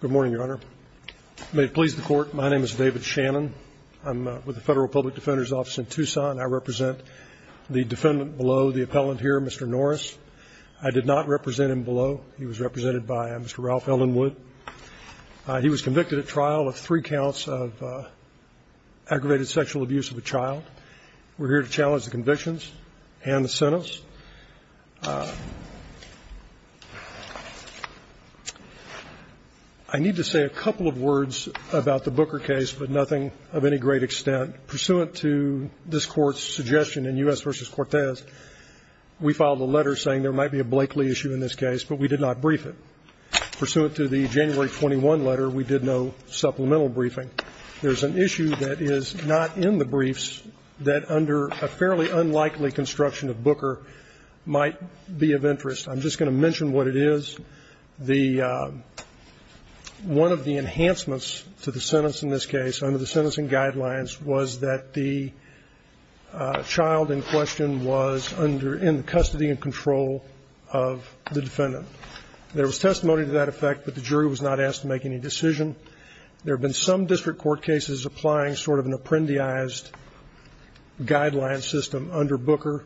Good morning, Your Honor. May it please the Court, my name is David Shannon. I'm with the Federal Public Defender's Office in Tucson. I represent the defendant below, the appellant here, Mr. Norris. I did not represent him below. He was represented by Mr. Ralph Ellenwood. He was convicted at trial of three counts of aggravated sexual abuse of a child. We're here to challenge the convictions and the sentence. I need to say a couple of words about the Booker case, but nothing of any great extent. Pursuant to this Court's suggestion in U.S. v. Cortez, we filed a letter saying there might be a Blakeley issue in this case, but we did not brief it. Pursuant to the January 21 letter, we did no supplemental briefing. There's an issue that is not in the briefs that, under a fairly unlikely construction of Booker, might be of interest. I'm just going to mention what it is. The one of the enhancements to the sentence in this case, under the sentencing guidelines, was that the child in question was under the custody and control of the defendant. There was testimony to that effect, but the jury was not asked to make any decision. There have been some district court cases applying sort of an apprendiized guideline system under Booker.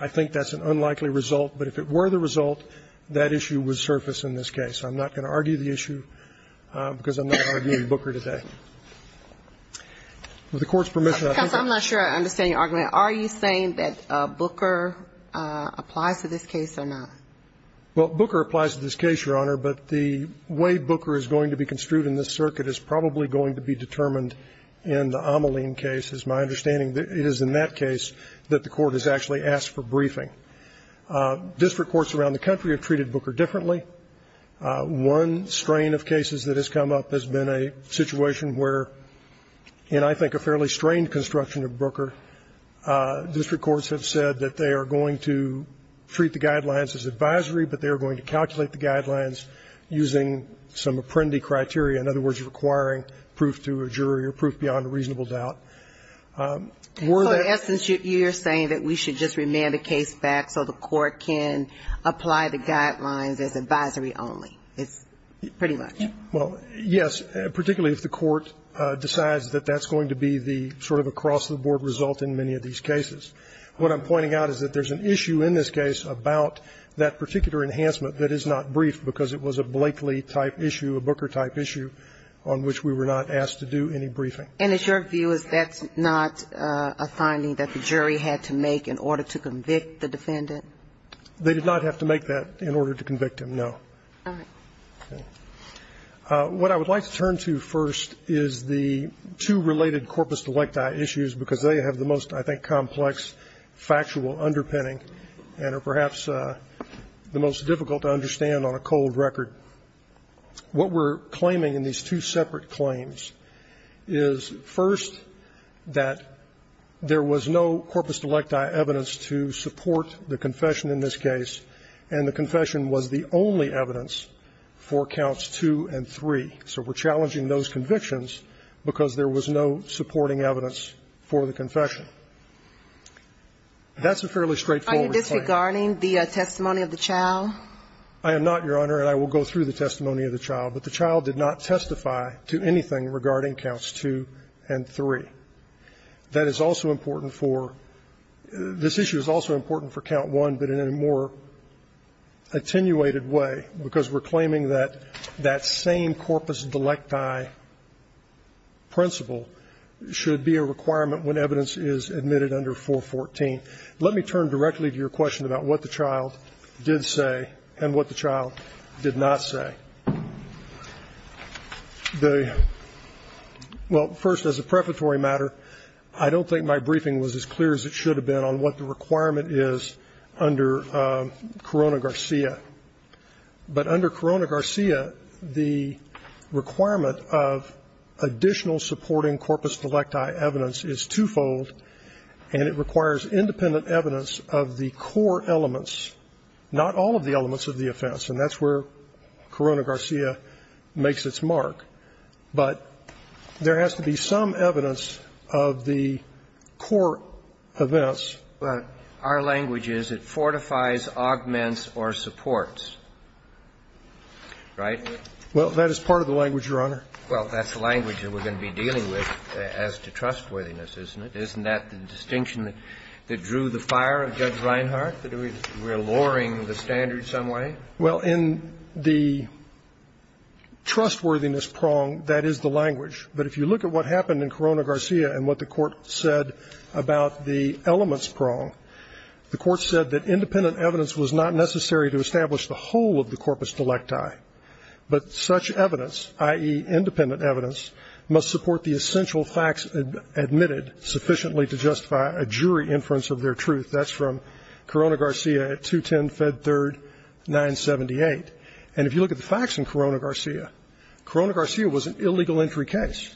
I think that's an unlikely result. But if it were the result, that issue would surface in this case. I'm not going to argue the issue because I'm not arguing Booker today. With the Court's permission, I have a question. I'm not sure I understand your argument. Are you saying that Booker applies to this case or not? Well, Booker applies to this case, Your Honor, but the way Booker is going to be construed in this circuit is probably going to be determined in the Ameline case. As my understanding, it is in that case that the Court has actually asked for briefing. District courts around the country have treated Booker differently. One strain of cases that has come up has been a situation where, in I think a fairly strained construction of Booker, district courts have said that they are going to treat the guidelines as advisory, but they are going to calculate the guidelines using some apprendi criteria, in other words, requiring proof to a jury or proof beyond a reasonable doubt. Were that the case? So in essence, you're saying that we should just remand the case back so the Court can apply the guidelines as advisory only. It's pretty much. Well, yes, particularly if the Court decides that that's going to be the sort of across-the-board result in many of these cases. What I'm pointing out is that there's an issue in this case about that particular enhancement that is not briefed because it was a Blakely-type issue, a Booker-type issue on which we were not asked to do any briefing. And it's your view is that's not a finding that the jury had to make in order to convict the defendant? They did not have to make that in order to convict him, no. All right. Okay. What I would like to turn to first is the two related corpus delicti issues because they have the most, I think, complex factual underpinning and are perhaps the most difficult to understand on a cold record. What we're claiming in these two separate claims is, first, that there was no corpus delicti evidence to support the confession in this case, and the confession was the only evidence for counts 2 and 3. So we're challenging those convictions because there was no supporting evidence for the confession. That's a fairly straightforward claim. Are you disregarding the testimony of the child? I am not, Your Honor, and I will go through the testimony of the child. But the child did not testify to anything regarding counts 2 and 3. That is also important for this issue is also important for count 1, but in a more attenuated way because we're claiming that that same corpus delicti principle should be a requirement when evidence is admitted under 414. Let me turn directly to your question about what the child did say and what the child did not say. The ñ well, first, as a preparatory matter, I don't think my briefing was as clear as it should have been on what the requirement is under Corona-Garcia. But under Corona-Garcia, the requirement of additional supporting corpus delicti evidence is twofold, and it requires independent evidence of the core elements, not all of the elements of the offense, and that's where Corona-Garcia makes its mark. But there has to be some evidence of the core events. Our language is it fortifies, augments, or supports. Right? Well, that is part of the language, Your Honor. Well, that's the language that we're going to be dealing with as to trustworthiness, isn't it? Isn't that the distinction that drew the fire of Judge Reinhart, that we're lowering the standard in some way? Well, in the trustworthiness prong, that is the language. But if you look at what happened in Corona-Garcia and what the Court said about the elements prong, the Court said that independent evidence was not necessary to establish the whole of the corpus delicti, but such evidence, i.e., independent evidence, must support the essential facts admitted sufficiently to justify a jury inference of their truth. That's from Corona-Garcia at 210 Fed 3rd 978. And if you look at the facts in Corona-Garcia, Corona-Garcia was an illegal entry case.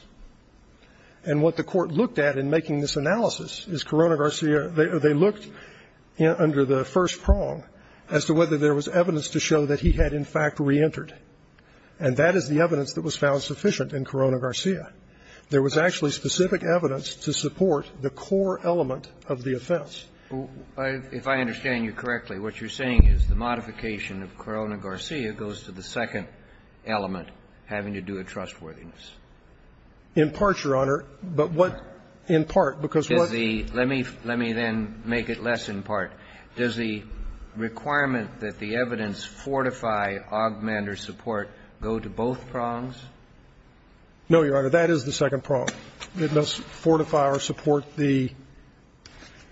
And what the Court looked at in making this analysis is Corona-Garcia, they looked under the first prong as to whether there was evidence to show that he had, in fact, reentered. And that is the evidence that was found sufficient in Corona-Garcia. There was actually specific evidence to support the core element of the offense. If I understand you correctly, what you're saying is the modification of Corona-Garcia goes to the second element, having to do with trustworthiness. In part, Your Honor. But what in part, because what's the Let me let me then make it less in part. Does the requirement that the evidence fortify, augment, or support go to both prongs? No, Your Honor. That is the second prong. It must fortify or support the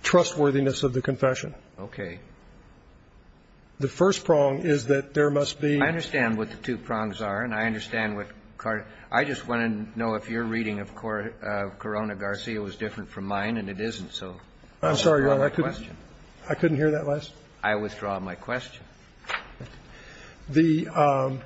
trustworthiness of the confession. Okay. The first prong is that there must be I understand what the two prongs are, and I understand what Carter I just want to know if your reading of Corona-Garcia was different from mine, and it isn't. So I'm sorry, Your Honor. I couldn't hear that last. I withdraw my question. The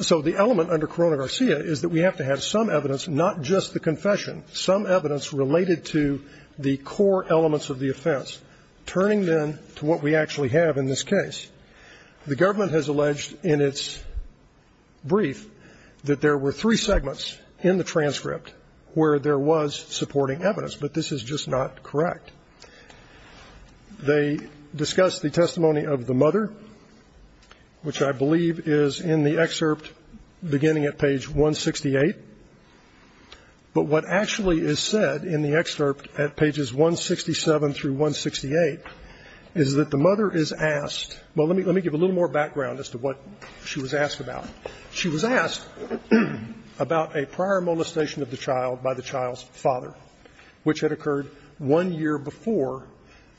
so the element under Corona-Garcia is that we have to have some evidence, not just the confession, some evidence related to the core elements of the offense, turning then to what we actually have in this case. The government has alleged in its brief that there were three segments in the transcript where there was supporting evidence, but this is just not correct. They discussed the testimony of the mother, which I believe is in the excerpt beginning at page 168, but what actually is said in the excerpt at pages 167 through 168 is that the mother is asked. Well, let me give a little more background as to what she was asked about. She was asked about a prior molestation of the child by the child's father, which had occurred one year before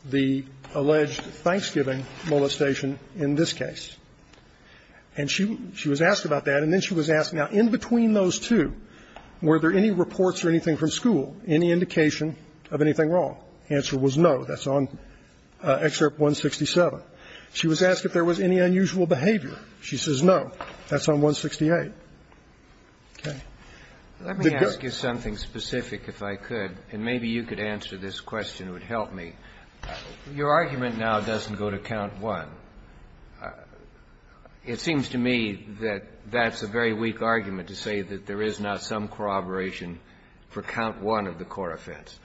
the alleged Thanksgiving molestation in this case. And she was asked about that, and then she was asked, now, in between those two, were there any reports or anything from school, any indication of anything wrong? The answer was no. That's on Excerpt 167. She was asked if there was any unusual behavior. She says no. That's on 168. Okay. Let me ask you something specific, if I could, and maybe you could answer this question. It would help me. Your argument now doesn't go to count one. It seems to me that that's a very weak argument to say that there is not some corroboration for count one of the core offense.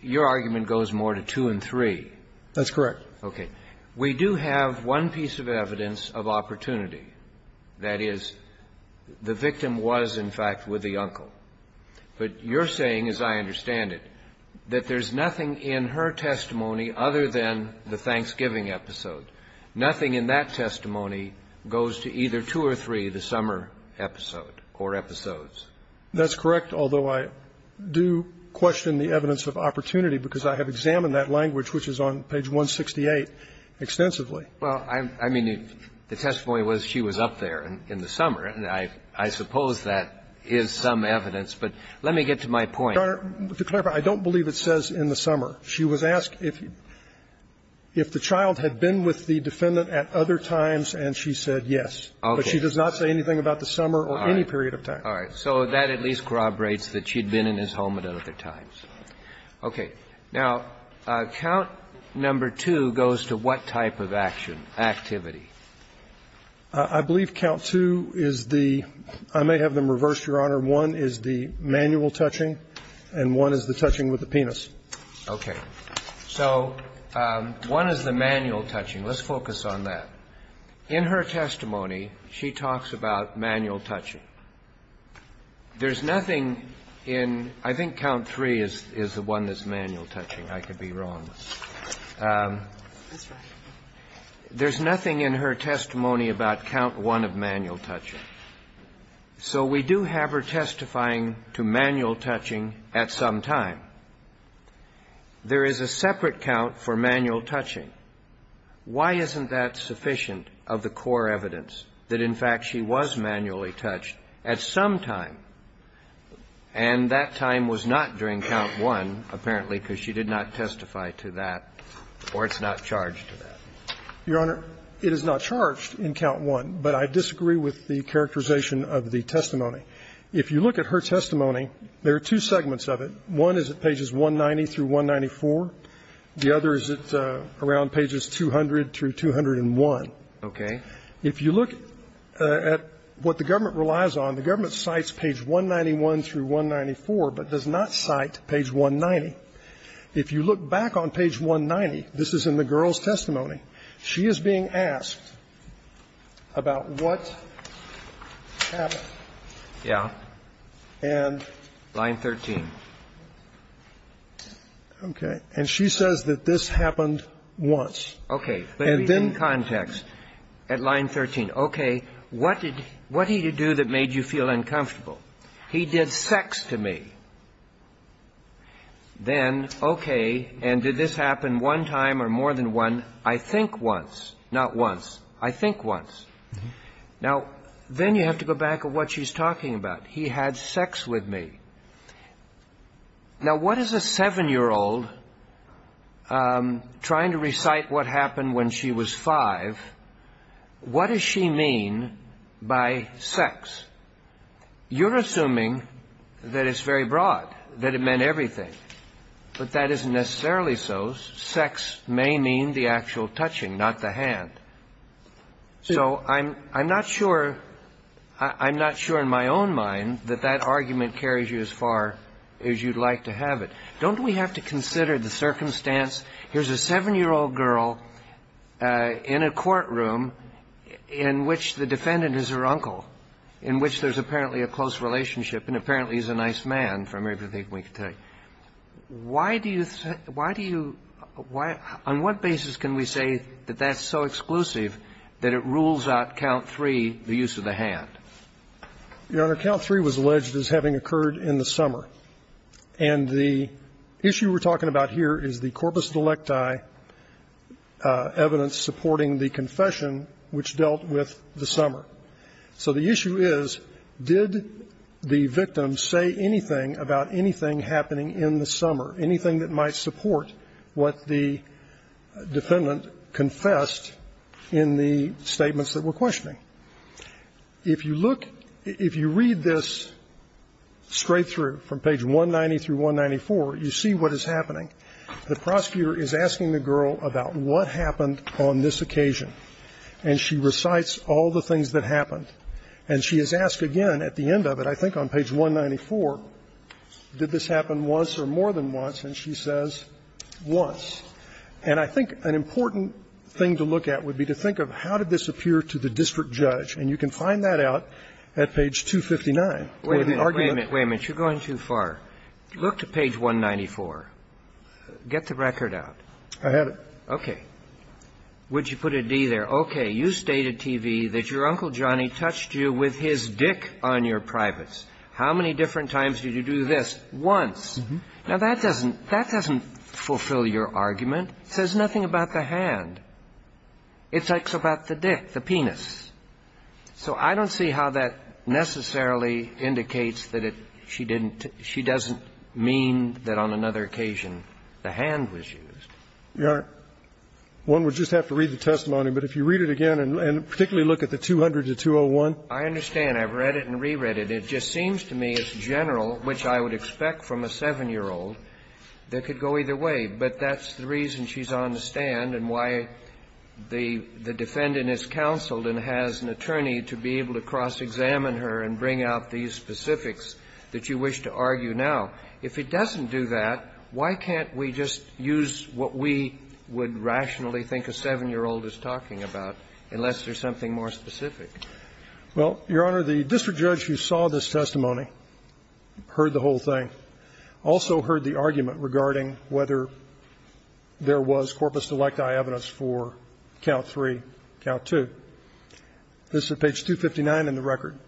Your argument goes more to two and three. That's correct. Okay. We do have one piece of evidence of opportunity. That is, the victim was, in fact, with the uncle. But you're saying, as I understand it, that there's nothing in her testimony other than the Thanksgiving episode. Nothing in that testimony goes to either two or three, the summer episode or episodes. That's correct, although I do question the evidence of opportunity because I have examined that language, which is on page 168, extensively. Well, I mean, the testimony was she was up there in the summer, and I suppose that is some evidence. But let me get to my point. Your Honor, to clarify, I don't believe it says in the summer. She was asked if the child had been with the defendant at other times, and she said yes. Okay. But she does not say anything about the summer or any period of time. All right. So that at least corroborates that she had been in his home at other times. Okay. Now, count number two goes to what type of action, activity? I believe count two is the – I may have them reversed, Your Honor. One is the manual touching, and one is the touching with the penis. Okay. So one is the manual touching. Let's focus on that. In her testimony, she talks about manual touching. There's nothing in – I think count three is the one that's manual touching. I could be wrong. There's nothing in her testimony about count one of manual touching. So we do have her testifying to manual touching at some time. There is a separate count for manual touching. Why isn't that sufficient of the core evidence that, in fact, she was manually touched at some time, and that time was not during count one, apparently, because she did not testify to that or it's not charged to that? Your Honor, it is not charged in count one, but I disagree with the characterization of the testimony. If you look at her testimony, there are two segments of it. One is at pages 190 through 194. The other is at around pages 200 through 201. Okay. If you look at what the government relies on, the government cites page 191 through 194, but does not cite page 190. If you look back on page 190, this is in the girl's testimony, she is being asked about what happened. Yeah. And? Line 13. Okay. And she says that this happened once. Okay. But in context, at line 13, okay, what did he do that made you feel uncomfortable? He did sex to me. Then, okay, and did this happen one time or more than one? I think once. Not once. I think once. Now, then you have to go back to what she's talking about. He had sex with me. Now, what does a seven-year-old trying to recite what happened when she was five, what does she mean by sex? You're assuming that it's very broad, that it meant everything. But that isn't necessarily so. Sex may mean the actual touching, not the hand. So I'm not sure, I'm not sure in my own mind that that argument carries you as far as you'd like to have it. Don't we have to consider the circumstance, here's a seven-year-old girl in a courtroom in which the defendant is her uncle, in which there's apparently a close relationship and apparently he's a nice man from everything we can tell you. Why do you, why do you, why, on what basis can we say that that's so exclusive that it rules out count three, the use of the hand? Your Honor, count three was alleged as having occurred in the summer. And the issue we're talking about here is the corpus delicti evidence supporting the confession which dealt with the summer. So the issue is, did the victim say anything about anything happening in the summer, anything that might support what the defendant confessed in the statements that we're questioning? If you look, if you read this straight through from page 190 through 194, you see what is happening. The prosecutor is asking the girl about what happened on this occasion. And she recites all the things that happened. And she is asked again at the end of it, I think on page 194, did this happen once or more than once, and she says, once. And I think an important thing to look at would be to think of how did this appear to the district judge. And you can find that out at page 259. Or the argument that's going on here is that the district judge is asking the girl about what happened on this occasion. And you can see there, okay, you stated, T.V., that your Uncle Johnny touched you with his dick on your privates. How many different times did you do this? Once. Now, that doesn't fulfill your argument. It says nothing about the hand. It talks about the dick, the penis. So I don't see how that necessarily indicates that she didn't, she doesn't mean that on another occasion the hand was used. One would just have to read the testimony. But if you read it again, and particularly look at the 200 to 201. I understand. I've read it and re-read it. It just seems to me it's general, which I would expect from a 7-year-old. That could go either way. But that's the reason she's on the stand and why the defendant is counseled and has an attorney to be able to cross-examine her and bring out these specifics that you wish to argue now. If it doesn't do that, why can't we just use what we would rationally think a 7-year-old is talking about, unless there's something more specific? Well, Your Honor, the district judge who saw this testimony, heard the whole thing, also heard the argument regarding whether there was corpus delecti evidence for count 3, count 2. This is page 259 in the record.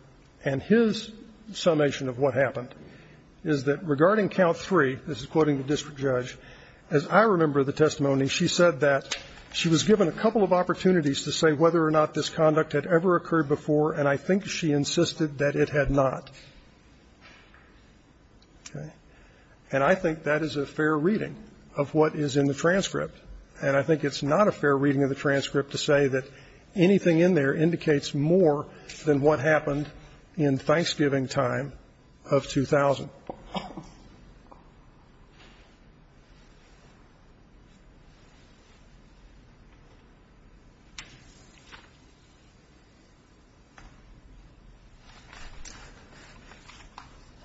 And his summation of what happened is that regarding count 3, this is quoting the district judge, as I remember the testimony, she said that she was given a couple of opportunities to say whether or not this conduct had ever occurred before, and I think she insisted that it had not. And I think that is a fair reading of what is in the transcript. And I think it's not a fair reading of the transcript to say that anything in there indicates more than what happened in Thanksgiving time of 2000.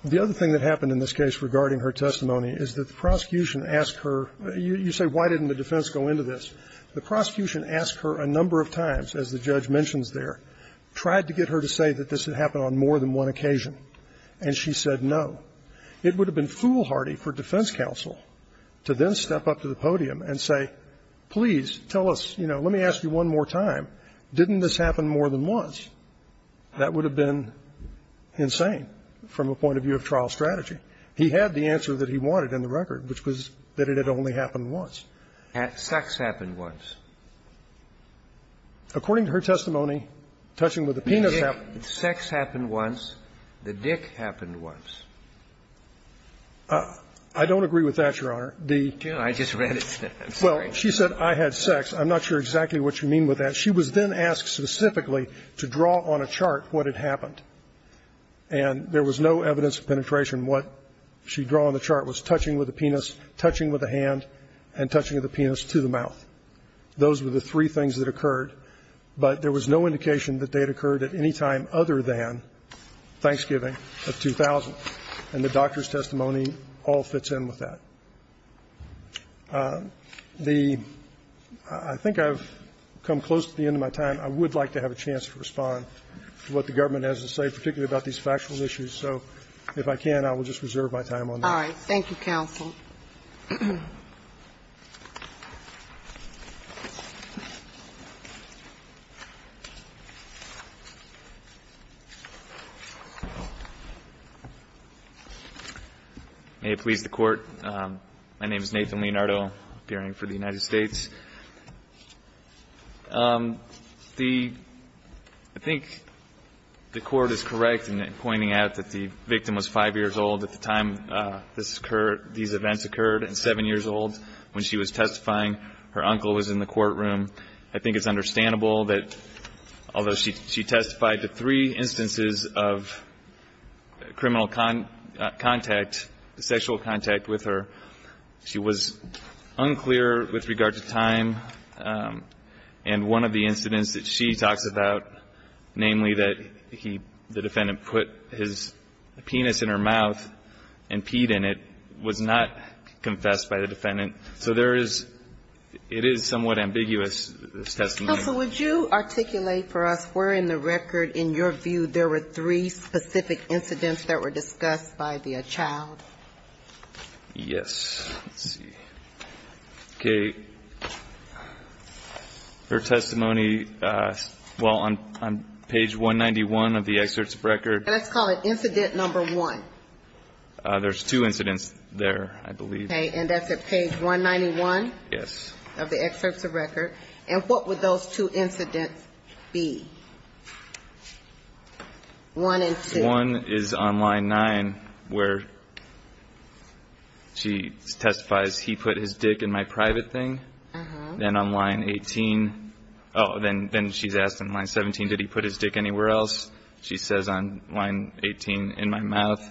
The other thing that happened in this case regarding her testimony is that the prosecution asked her, you say, why didn't the defendant come forward and say, why didn't the defense go into this? The prosecution asked her a number of times, as the judge mentions there, tried to get her to say that this had happened on more than one occasion, and she said no. It would have been foolhardy for defense counsel to then step up to the podium and say, please, tell us, you know, let me ask you one more time, didn't this happen more than once? That would have been insane from a point of view of trial strategy. He had the answer that he wanted in the record, which was that it had only happened once. Sex happened once. According to her testimony, touching with the penis happened once. Sex happened once. The dick happened once. I don't agree with that, Your Honor. I just read it. I'm sorry. Well, she said I had sex. I'm not sure exactly what you mean with that. She was then asked specifically to draw on a chart what had happened. And there was no evidence of penetration. What she drew on the chart was touching with the penis, touching with the hand, and touching with the penis to the mouth. Those were the three things that occurred. But there was no indication that they had occurred at any time other than Thanksgiving of 2000. And the doctor's testimony all fits in with that. The ‑‑ I think I've come close to the end of my time. I would like to have a chance to respond to what the government has to say, particularly about these factual issues. So if I can, I will just reserve my time on that. All right. Thank you, counsel. May it please the Court. My name is Nathan Leonardo, appearing for the United States. The ‑‑ I think the Court is correct in pointing out that the victim was 5 years old at the time this occurred, these events occurred, and 7 years old when she was testifying. Her uncle was in the courtroom. I think it's understandable that although she testified to three instances of criminal contact, sexual contact with her, she was unclear with regard to time of death. And one of the incidents that she talks about, namely that the defendant put his penis in her mouth and peed in it, was not confessed by the defendant. So there is ‑‑ it is somewhat ambiguous, this testimony. Counsel, would you articulate for us where in the record, in your view, there were three specific incidents that were discussed by the child? Yes. Let's see. Okay. Let's see. Her testimony, well, on page 191 of the excerpts of record. Let's call it incident number 1. There's two incidents there, I believe. Okay. And that's at page 191? Yes. Of the excerpts of record. And what would those two incidents be, 1 and 2? 1 is on line 9, where she testifies, he put his dick in my private thing. Then on line 18, oh, then she's asked on line 17, did he put his dick anywhere else? She says on line 18, in my mouth.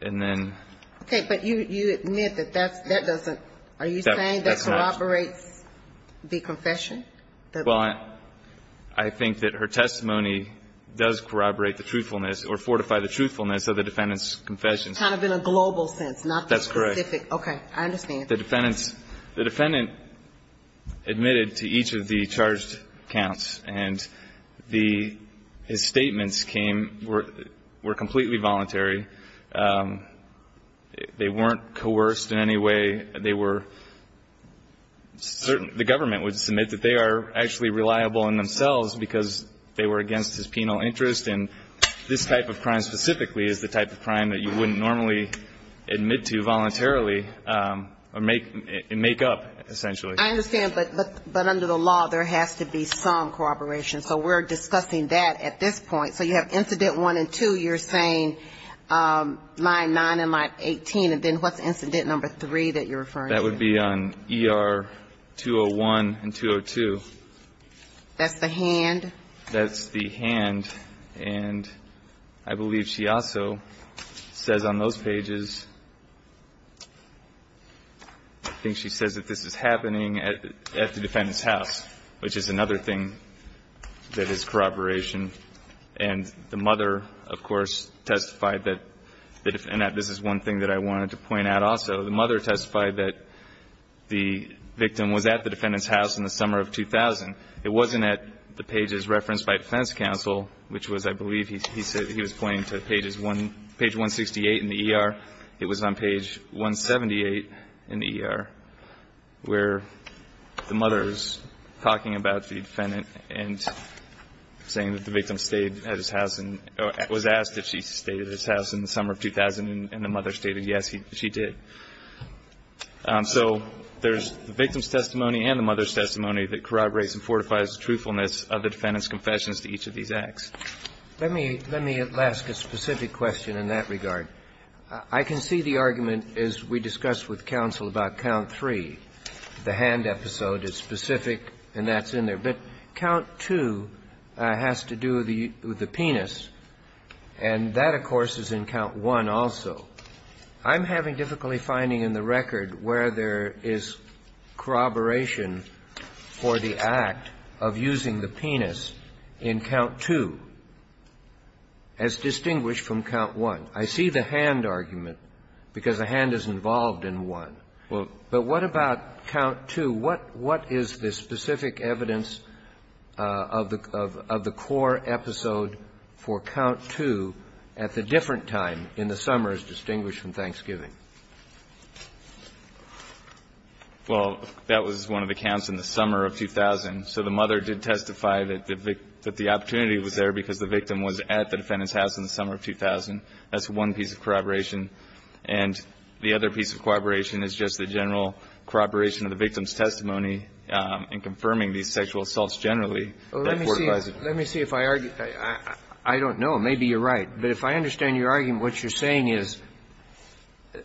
And then ‑‑ Okay. But you admit that that doesn't ‑‑ are you saying that corroborates the confession? Well, I think that her testimony does corroborate the truthfulness or fortify the truthfulness of the defendant's confession. Kind of in a global sense, not the specific. That's correct. Okay. I understand. I think the defendants ‑‑ the defendant admitted to each of the charged counts. And the ‑‑ his statements came ‑‑ were completely voluntary. They weren't coerced in any way. They were ‑‑ the government would submit that they are actually reliable in themselves because they were against his penal interest. And this type of crime specifically is the type of crime that you wouldn't normally admit to voluntarily. Or make up, essentially. I understand. But under the law, there has to be some corroboration. So we're discussing that at this point. So you have incident one and two. You're saying line nine and line 18. And then what's incident number three that you're referring to? That would be on ER 201 and 202. That's the hand? That's the hand. And I believe she also says on those pages, I think she says that this is happening at the defendant's house, which is another thing that is corroboration. And the mother, of course, testified that ‑‑ and this is one thing that I wanted to point out also. The mother testified that the victim was at the defendant's house in the summer of 2000. It wasn't at the pages referenced by defense counsel, which was, I believe, he was pointing to page 168 in the ER. It was on page 178 in the ER where the mother is talking about the defendant and saying that the victim stayed at his house and was asked if she stayed at his house in the summer of 2000. And the mother stated yes, she did. So there's the victim's testimony and the mother's testimony that corroborates and fortifies the truthfulness of the defendant's confessions to each of these acts. Let me ask a specific question in that regard. I can see the argument, as we discussed with counsel, about count three, the hand episode. It's specific, and that's in there. But count two has to do with the penis, and that, of course, is in count one also. I'm having difficulty finding in the record where there is corroboration for the act of using the penis in count two as distinguished from count one. I see the hand argument because the hand is involved in one. But what about count two? What is the specific evidence of the core episode for count two at the different time in the summer as distinguished from Thanksgiving? Well, that was one of the counts in the summer of 2000. So the mother did testify that the opportunity was there because the victim was at the defendant's house in the summer of 2000. That's one piece of corroboration. And the other piece of corroboration is just the general corroboration of the victim's testimony in confirming these sexual assaults generally that fortifies the truth. Let me see if I argue. I don't know. Maybe you're right. But if I understand your argument, what you're saying is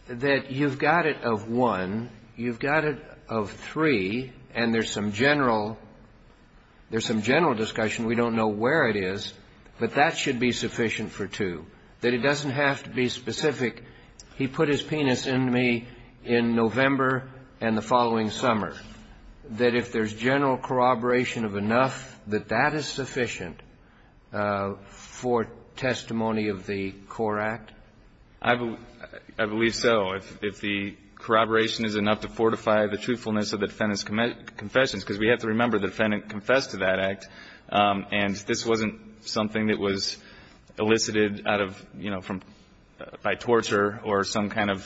that you've got it of one, you've got it of three, and there's some general discussion. We don't know where it is. But that should be sufficient for two, that it doesn't have to be specific. He put his penis in me in November and the following summer, that if there's general corroboration of enough, that that is sufficient for testimony of the core act? I believe so. If the corroboration is enough to fortify the truthfulness of the defendant's confessions. Because we have to remember the defendant confessed to that act, and this wasn't something that was elicited out of, you know, by torture or some kind of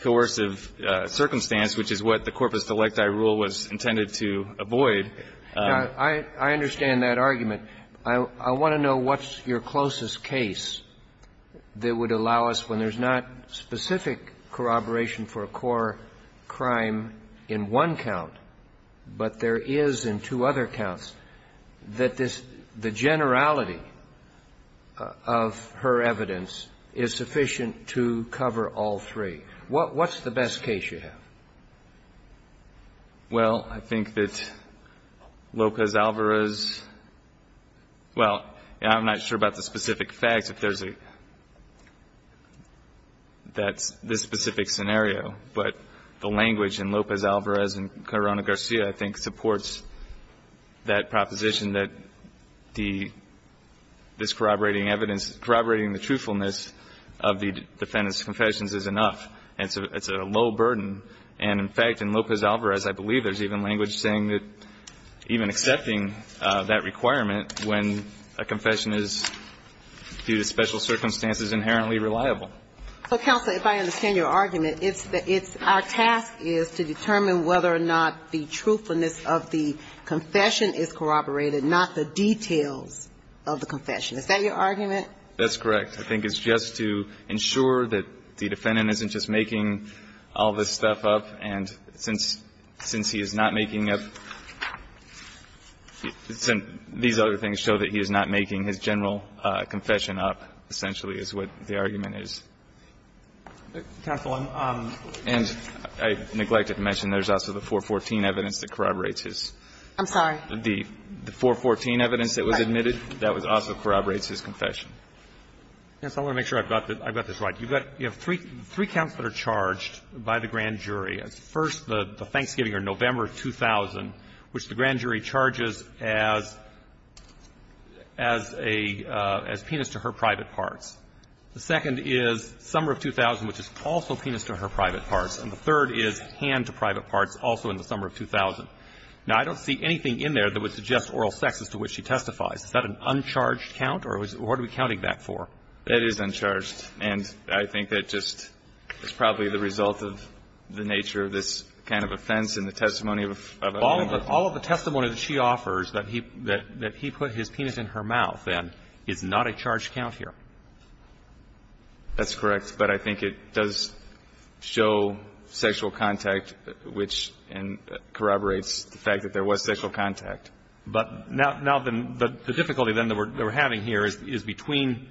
coercive circumstance, which is what the corpus delecti rule was intended to avoid. I understand that argument. I want to know what's your closest case that would allow us, when there's not specific corroboration for a core crime in one count, but there is in two other counts, that this the generality of her evidence is sufficient to cover all three. What's the best case? Well, I think that Lopez Alvarez, well, I'm not sure about the specific facts, if there's a, that's this specific scenario, but the language in Lopez Alvarez and Corona Garcia, I think, supports that proposition that the, this corroborating evidence, corroborating the truthfulness of the defendant's confessions is enough. It's a low burden. And, in fact, in Lopez Alvarez, I believe there's even language saying that even accepting that requirement when a confession is, due to special circumstances, inherently reliable. So, Counselor, if I understand your argument, it's our task is to determine whether or not the truthfulness of the confession is corroborated, not the details of the confession. Is that your argument? That's correct. I think it's just to ensure that the defendant isn't just making all this stuff up, and since, since he is not making up, these other things show that he is not making his general confession up, essentially, is what the argument is. Counsel, I'm, and I neglected to mention there's also the 414 evidence that corroborates his. I'm sorry. The 414 evidence that was admitted, that was also corroborates his confession. Yes, I want to make sure I've got this right. You've got, you have three counts that are charged by the grand jury. First, the Thanksgiving or November of 2000, which the grand jury charges as, as a, as penis to her private parts. The second is summer of 2000, which is also penis to her private parts. And the third is hand to private parts, also in the summer of 2000. Now, I don't see anything in there that would suggest oral sex as to which she testifies. Is that an uncharged count? Or what are we counting that for? That is uncharged. And I think that just is probably the result of the nature of this kind of offense and the testimony of a woman. All of the testimony that she offers, that he, that he put his penis in her mouth, then, is not a charged count here. That's correct. But I think it does show sexual contact, which corroborates the fact that there was sexual contact. But now, now the, the difficulty then that we're, that we're having here is, is between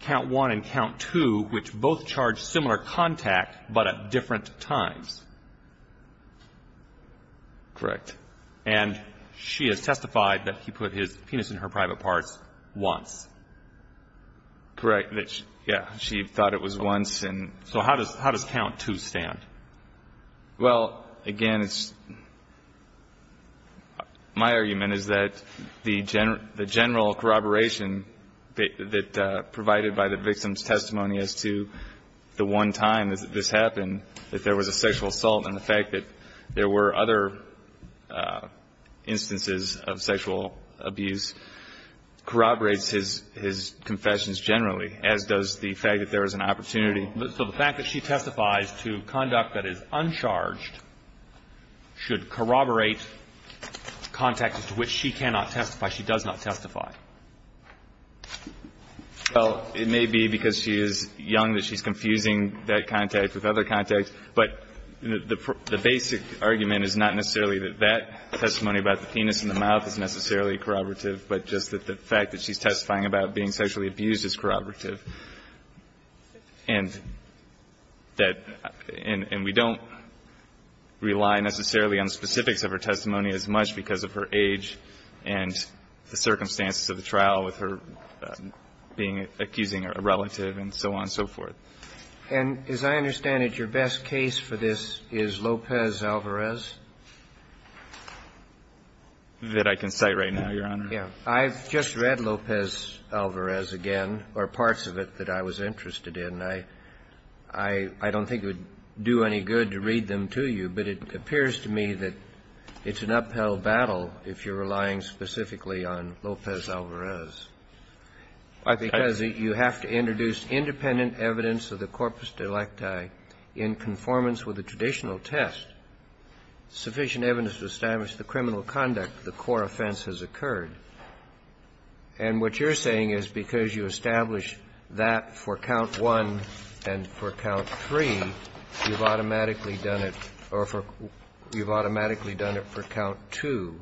count one and count two, which both charge similar contact, but at different times. Correct. And she has testified that he put his penis in her private parts once. Correct. Yeah. She thought it was once. So how does, how does count two stand? Well, again, it's, my argument is that the general, the general corroboration that, that provided by the victim's testimony as to the one time that this happened, that there was a sexual assault and the fact that there were other instances of sexual abuse corroborates his, his confessions generally, as does the fact that there was an opportunity. So the fact that she testifies to conduct that is uncharged should corroborate contact to which she cannot testify, she does not testify. Well, it may be because she is young that she's confusing that contact with other contacts, but the, the basic argument is not necessarily that that testimony about the penis in the mouth is necessarily corroborative, but just that the fact that she's testifying about being sexually abused is corroborative. And that, and we don't rely necessarily on specifics of her testimony as much because of her age and the circumstances of the trial with her being, accusing a relative and so on and so forth. And as I understand it, your best case for this is Lopez-Alvarez? That I can cite right now, Your Honor. I've just read Lopez-Alvarez again, or parts of it that I was interested in. I, I, I don't think it would do any good to read them to you, but it appears to me that it's an upheld battle if you're relying specifically on Lopez-Alvarez. Because you have to introduce independent evidence of the corpus delicti in conformance with the traditional test, sufficient evidence to establish the criminal conduct that the core offense has occurred. And what you're saying is because you establish that for count one and for count three, you've automatically done it, or you've automatically done it for count two.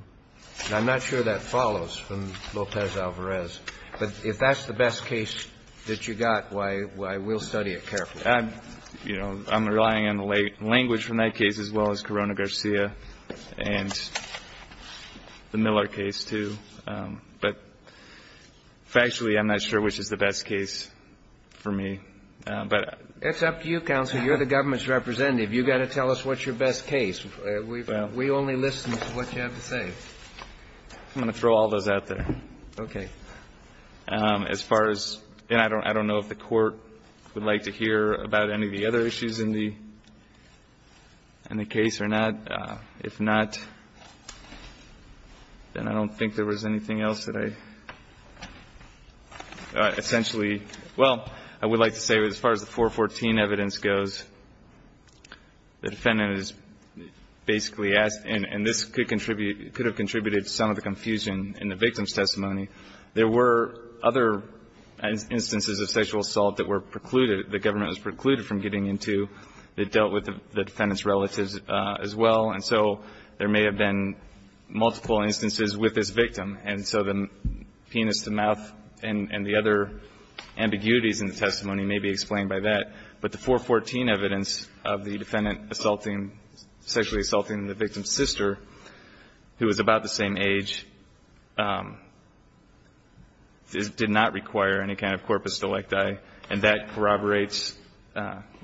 And I'm not sure that follows from Lopez-Alvarez. But if that's the best case that you got, why, why, we'll study it carefully. I'm, you know, I'm relying on the language from that case as well as Corona-Garcia. And the Miller case, too. But factually, I'm not sure which is the best case for me. But. It's up to you, Counselor. You're the government's representative. You've got to tell us what's your best case. We've, we only listen to what you have to say. I'm going to throw all those out there. Okay. As far as, and I don't, I don't know if the Court would like to hear about any of the other issues in the, in the case or not. If not, then I don't think there was anything else that I, essentially. Well, I would like to say as far as the 414 evidence goes, the defendant is basically asked, and this could contribute, could have contributed to some of the confusion in the victim's testimony. There were other instances of sexual assault that were precluded, the government was precluded from getting into. It dealt with the defendant's relatives as well. And so there may have been multiple instances with this victim. And so the penis, the mouth, and the other ambiguities in the testimony may be explained by that. But the 414 evidence of the defendant assaulting, sexually assaulting the victim's sister, who was about the same age, did not require any kind of corpus electi. And that corroborates,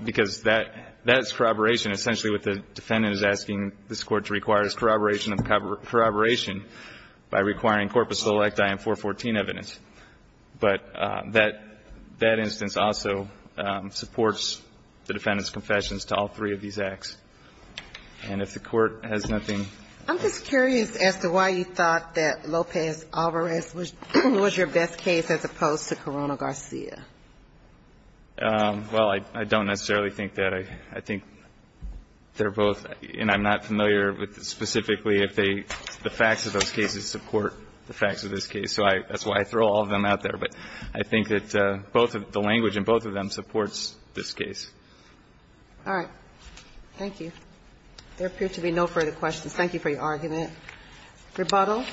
because that, that is corroboration. Essentially what the defendant is asking this Court to require is corroboration of corroboration by requiring corpus electi in 414 evidence. But that, that instance also supports the defendant's confessions to all three of these acts. And if the Court has nothing. I'm just curious as to why you thought that Lopez-Alvarez was your best case as opposed to Corona-Garcia. Well, I don't necessarily think that. I think they're both, and I'm not familiar with specifically if they, the facts of those cases support the facts of this case. So I, that's why I throw all of them out there. But I think that both, the language in both of them supports this case. All right. Thank you. There appear to be no further questions. Thank you for your argument. Rebuttal.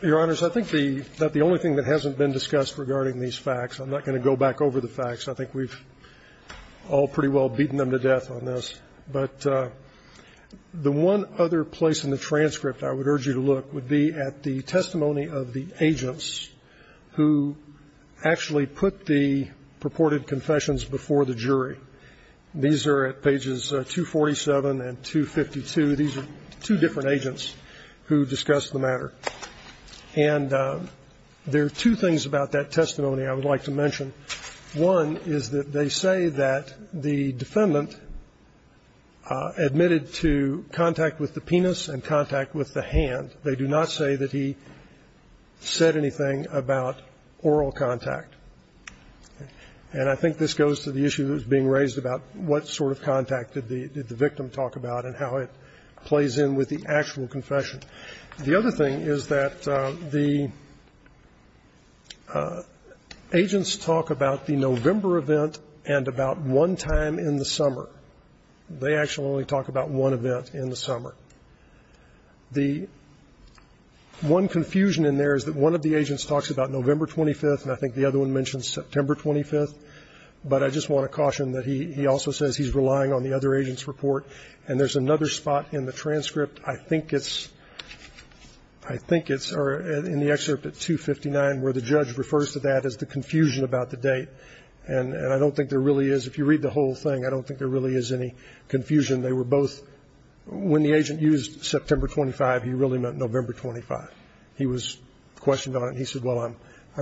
Your Honors, I think the, that the only thing that hasn't been discussed regarding these facts, I'm not going to go back over the facts. I think we've all pretty well beaten them to death on this. But the one other place in the transcript I would urge you to look would be at the testimony of the agents who actually put the purported confession in this case. These are at pages 247 and 252. These are two different agents who discussed the matter. And there are two things about that testimony I would like to mention. One is that they say that the defendant admitted to contact with the penis and contact with the hand. They do not say that he said anything about oral contact. And I think this goes to the issue that was being raised about what sort of contact did the victim talk about and how it plays in with the actual confession. The other thing is that the agents talk about the November event and about one time in the summer. They actually only talk about one event in the summer. The one confusion in there is that one of the agents talks about November 25th, and I think the other one mentions September 25th, but I just want to caution that he also says he's relying on the other agent's report. And there's another spot in the transcript, I think it's in the excerpt at 259, where the judge refers to that as the confusion about the date. And I don't think there really is. If you read the whole thing, I don't think there really is any confusion. When the agent used September 25, he really meant November 25. He was questioned on it, and he said, well, I'm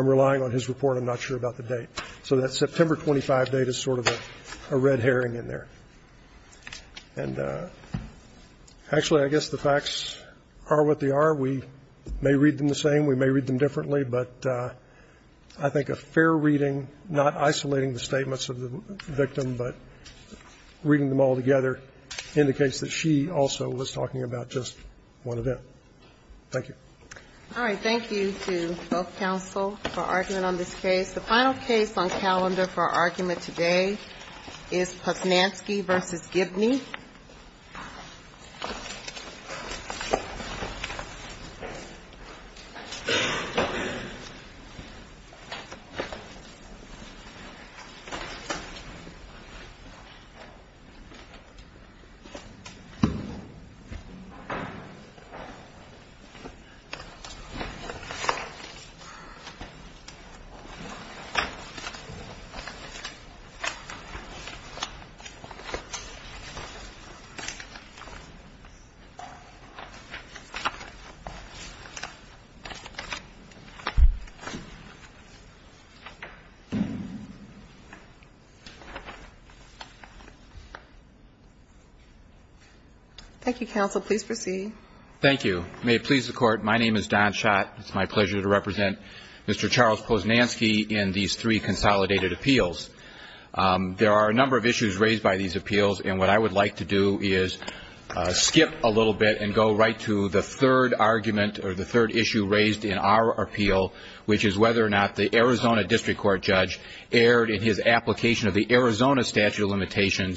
relying on his report, I'm not sure about the date. So that September 25 date is sort of a red herring in there. And actually, I guess the facts are what they are. We may read them the same, we may read them differently, but I think a fair reading, not isolating the statements of the victim, but reading them all together, indicates that she also was talking about just one event. Thank you. All right. Thank you to both counsel for argument on this case. The final case on calendar for argument today is Posnansky v. Gibney. Thank you. Thank you, counsel. Please proceed. Thank you. May it please the Court, my name is Don Schott. It's my pleasure to represent Mr. Charles Posnansky in these three consolidated appeals. There are a number of issues raised by these appeals, and what I would like to do is skip a little bit and go right to the third argument, or the third issue raised in our appeal, which is whether or not the Arizona District Court judge aired in his application of the Arizona statute of limitations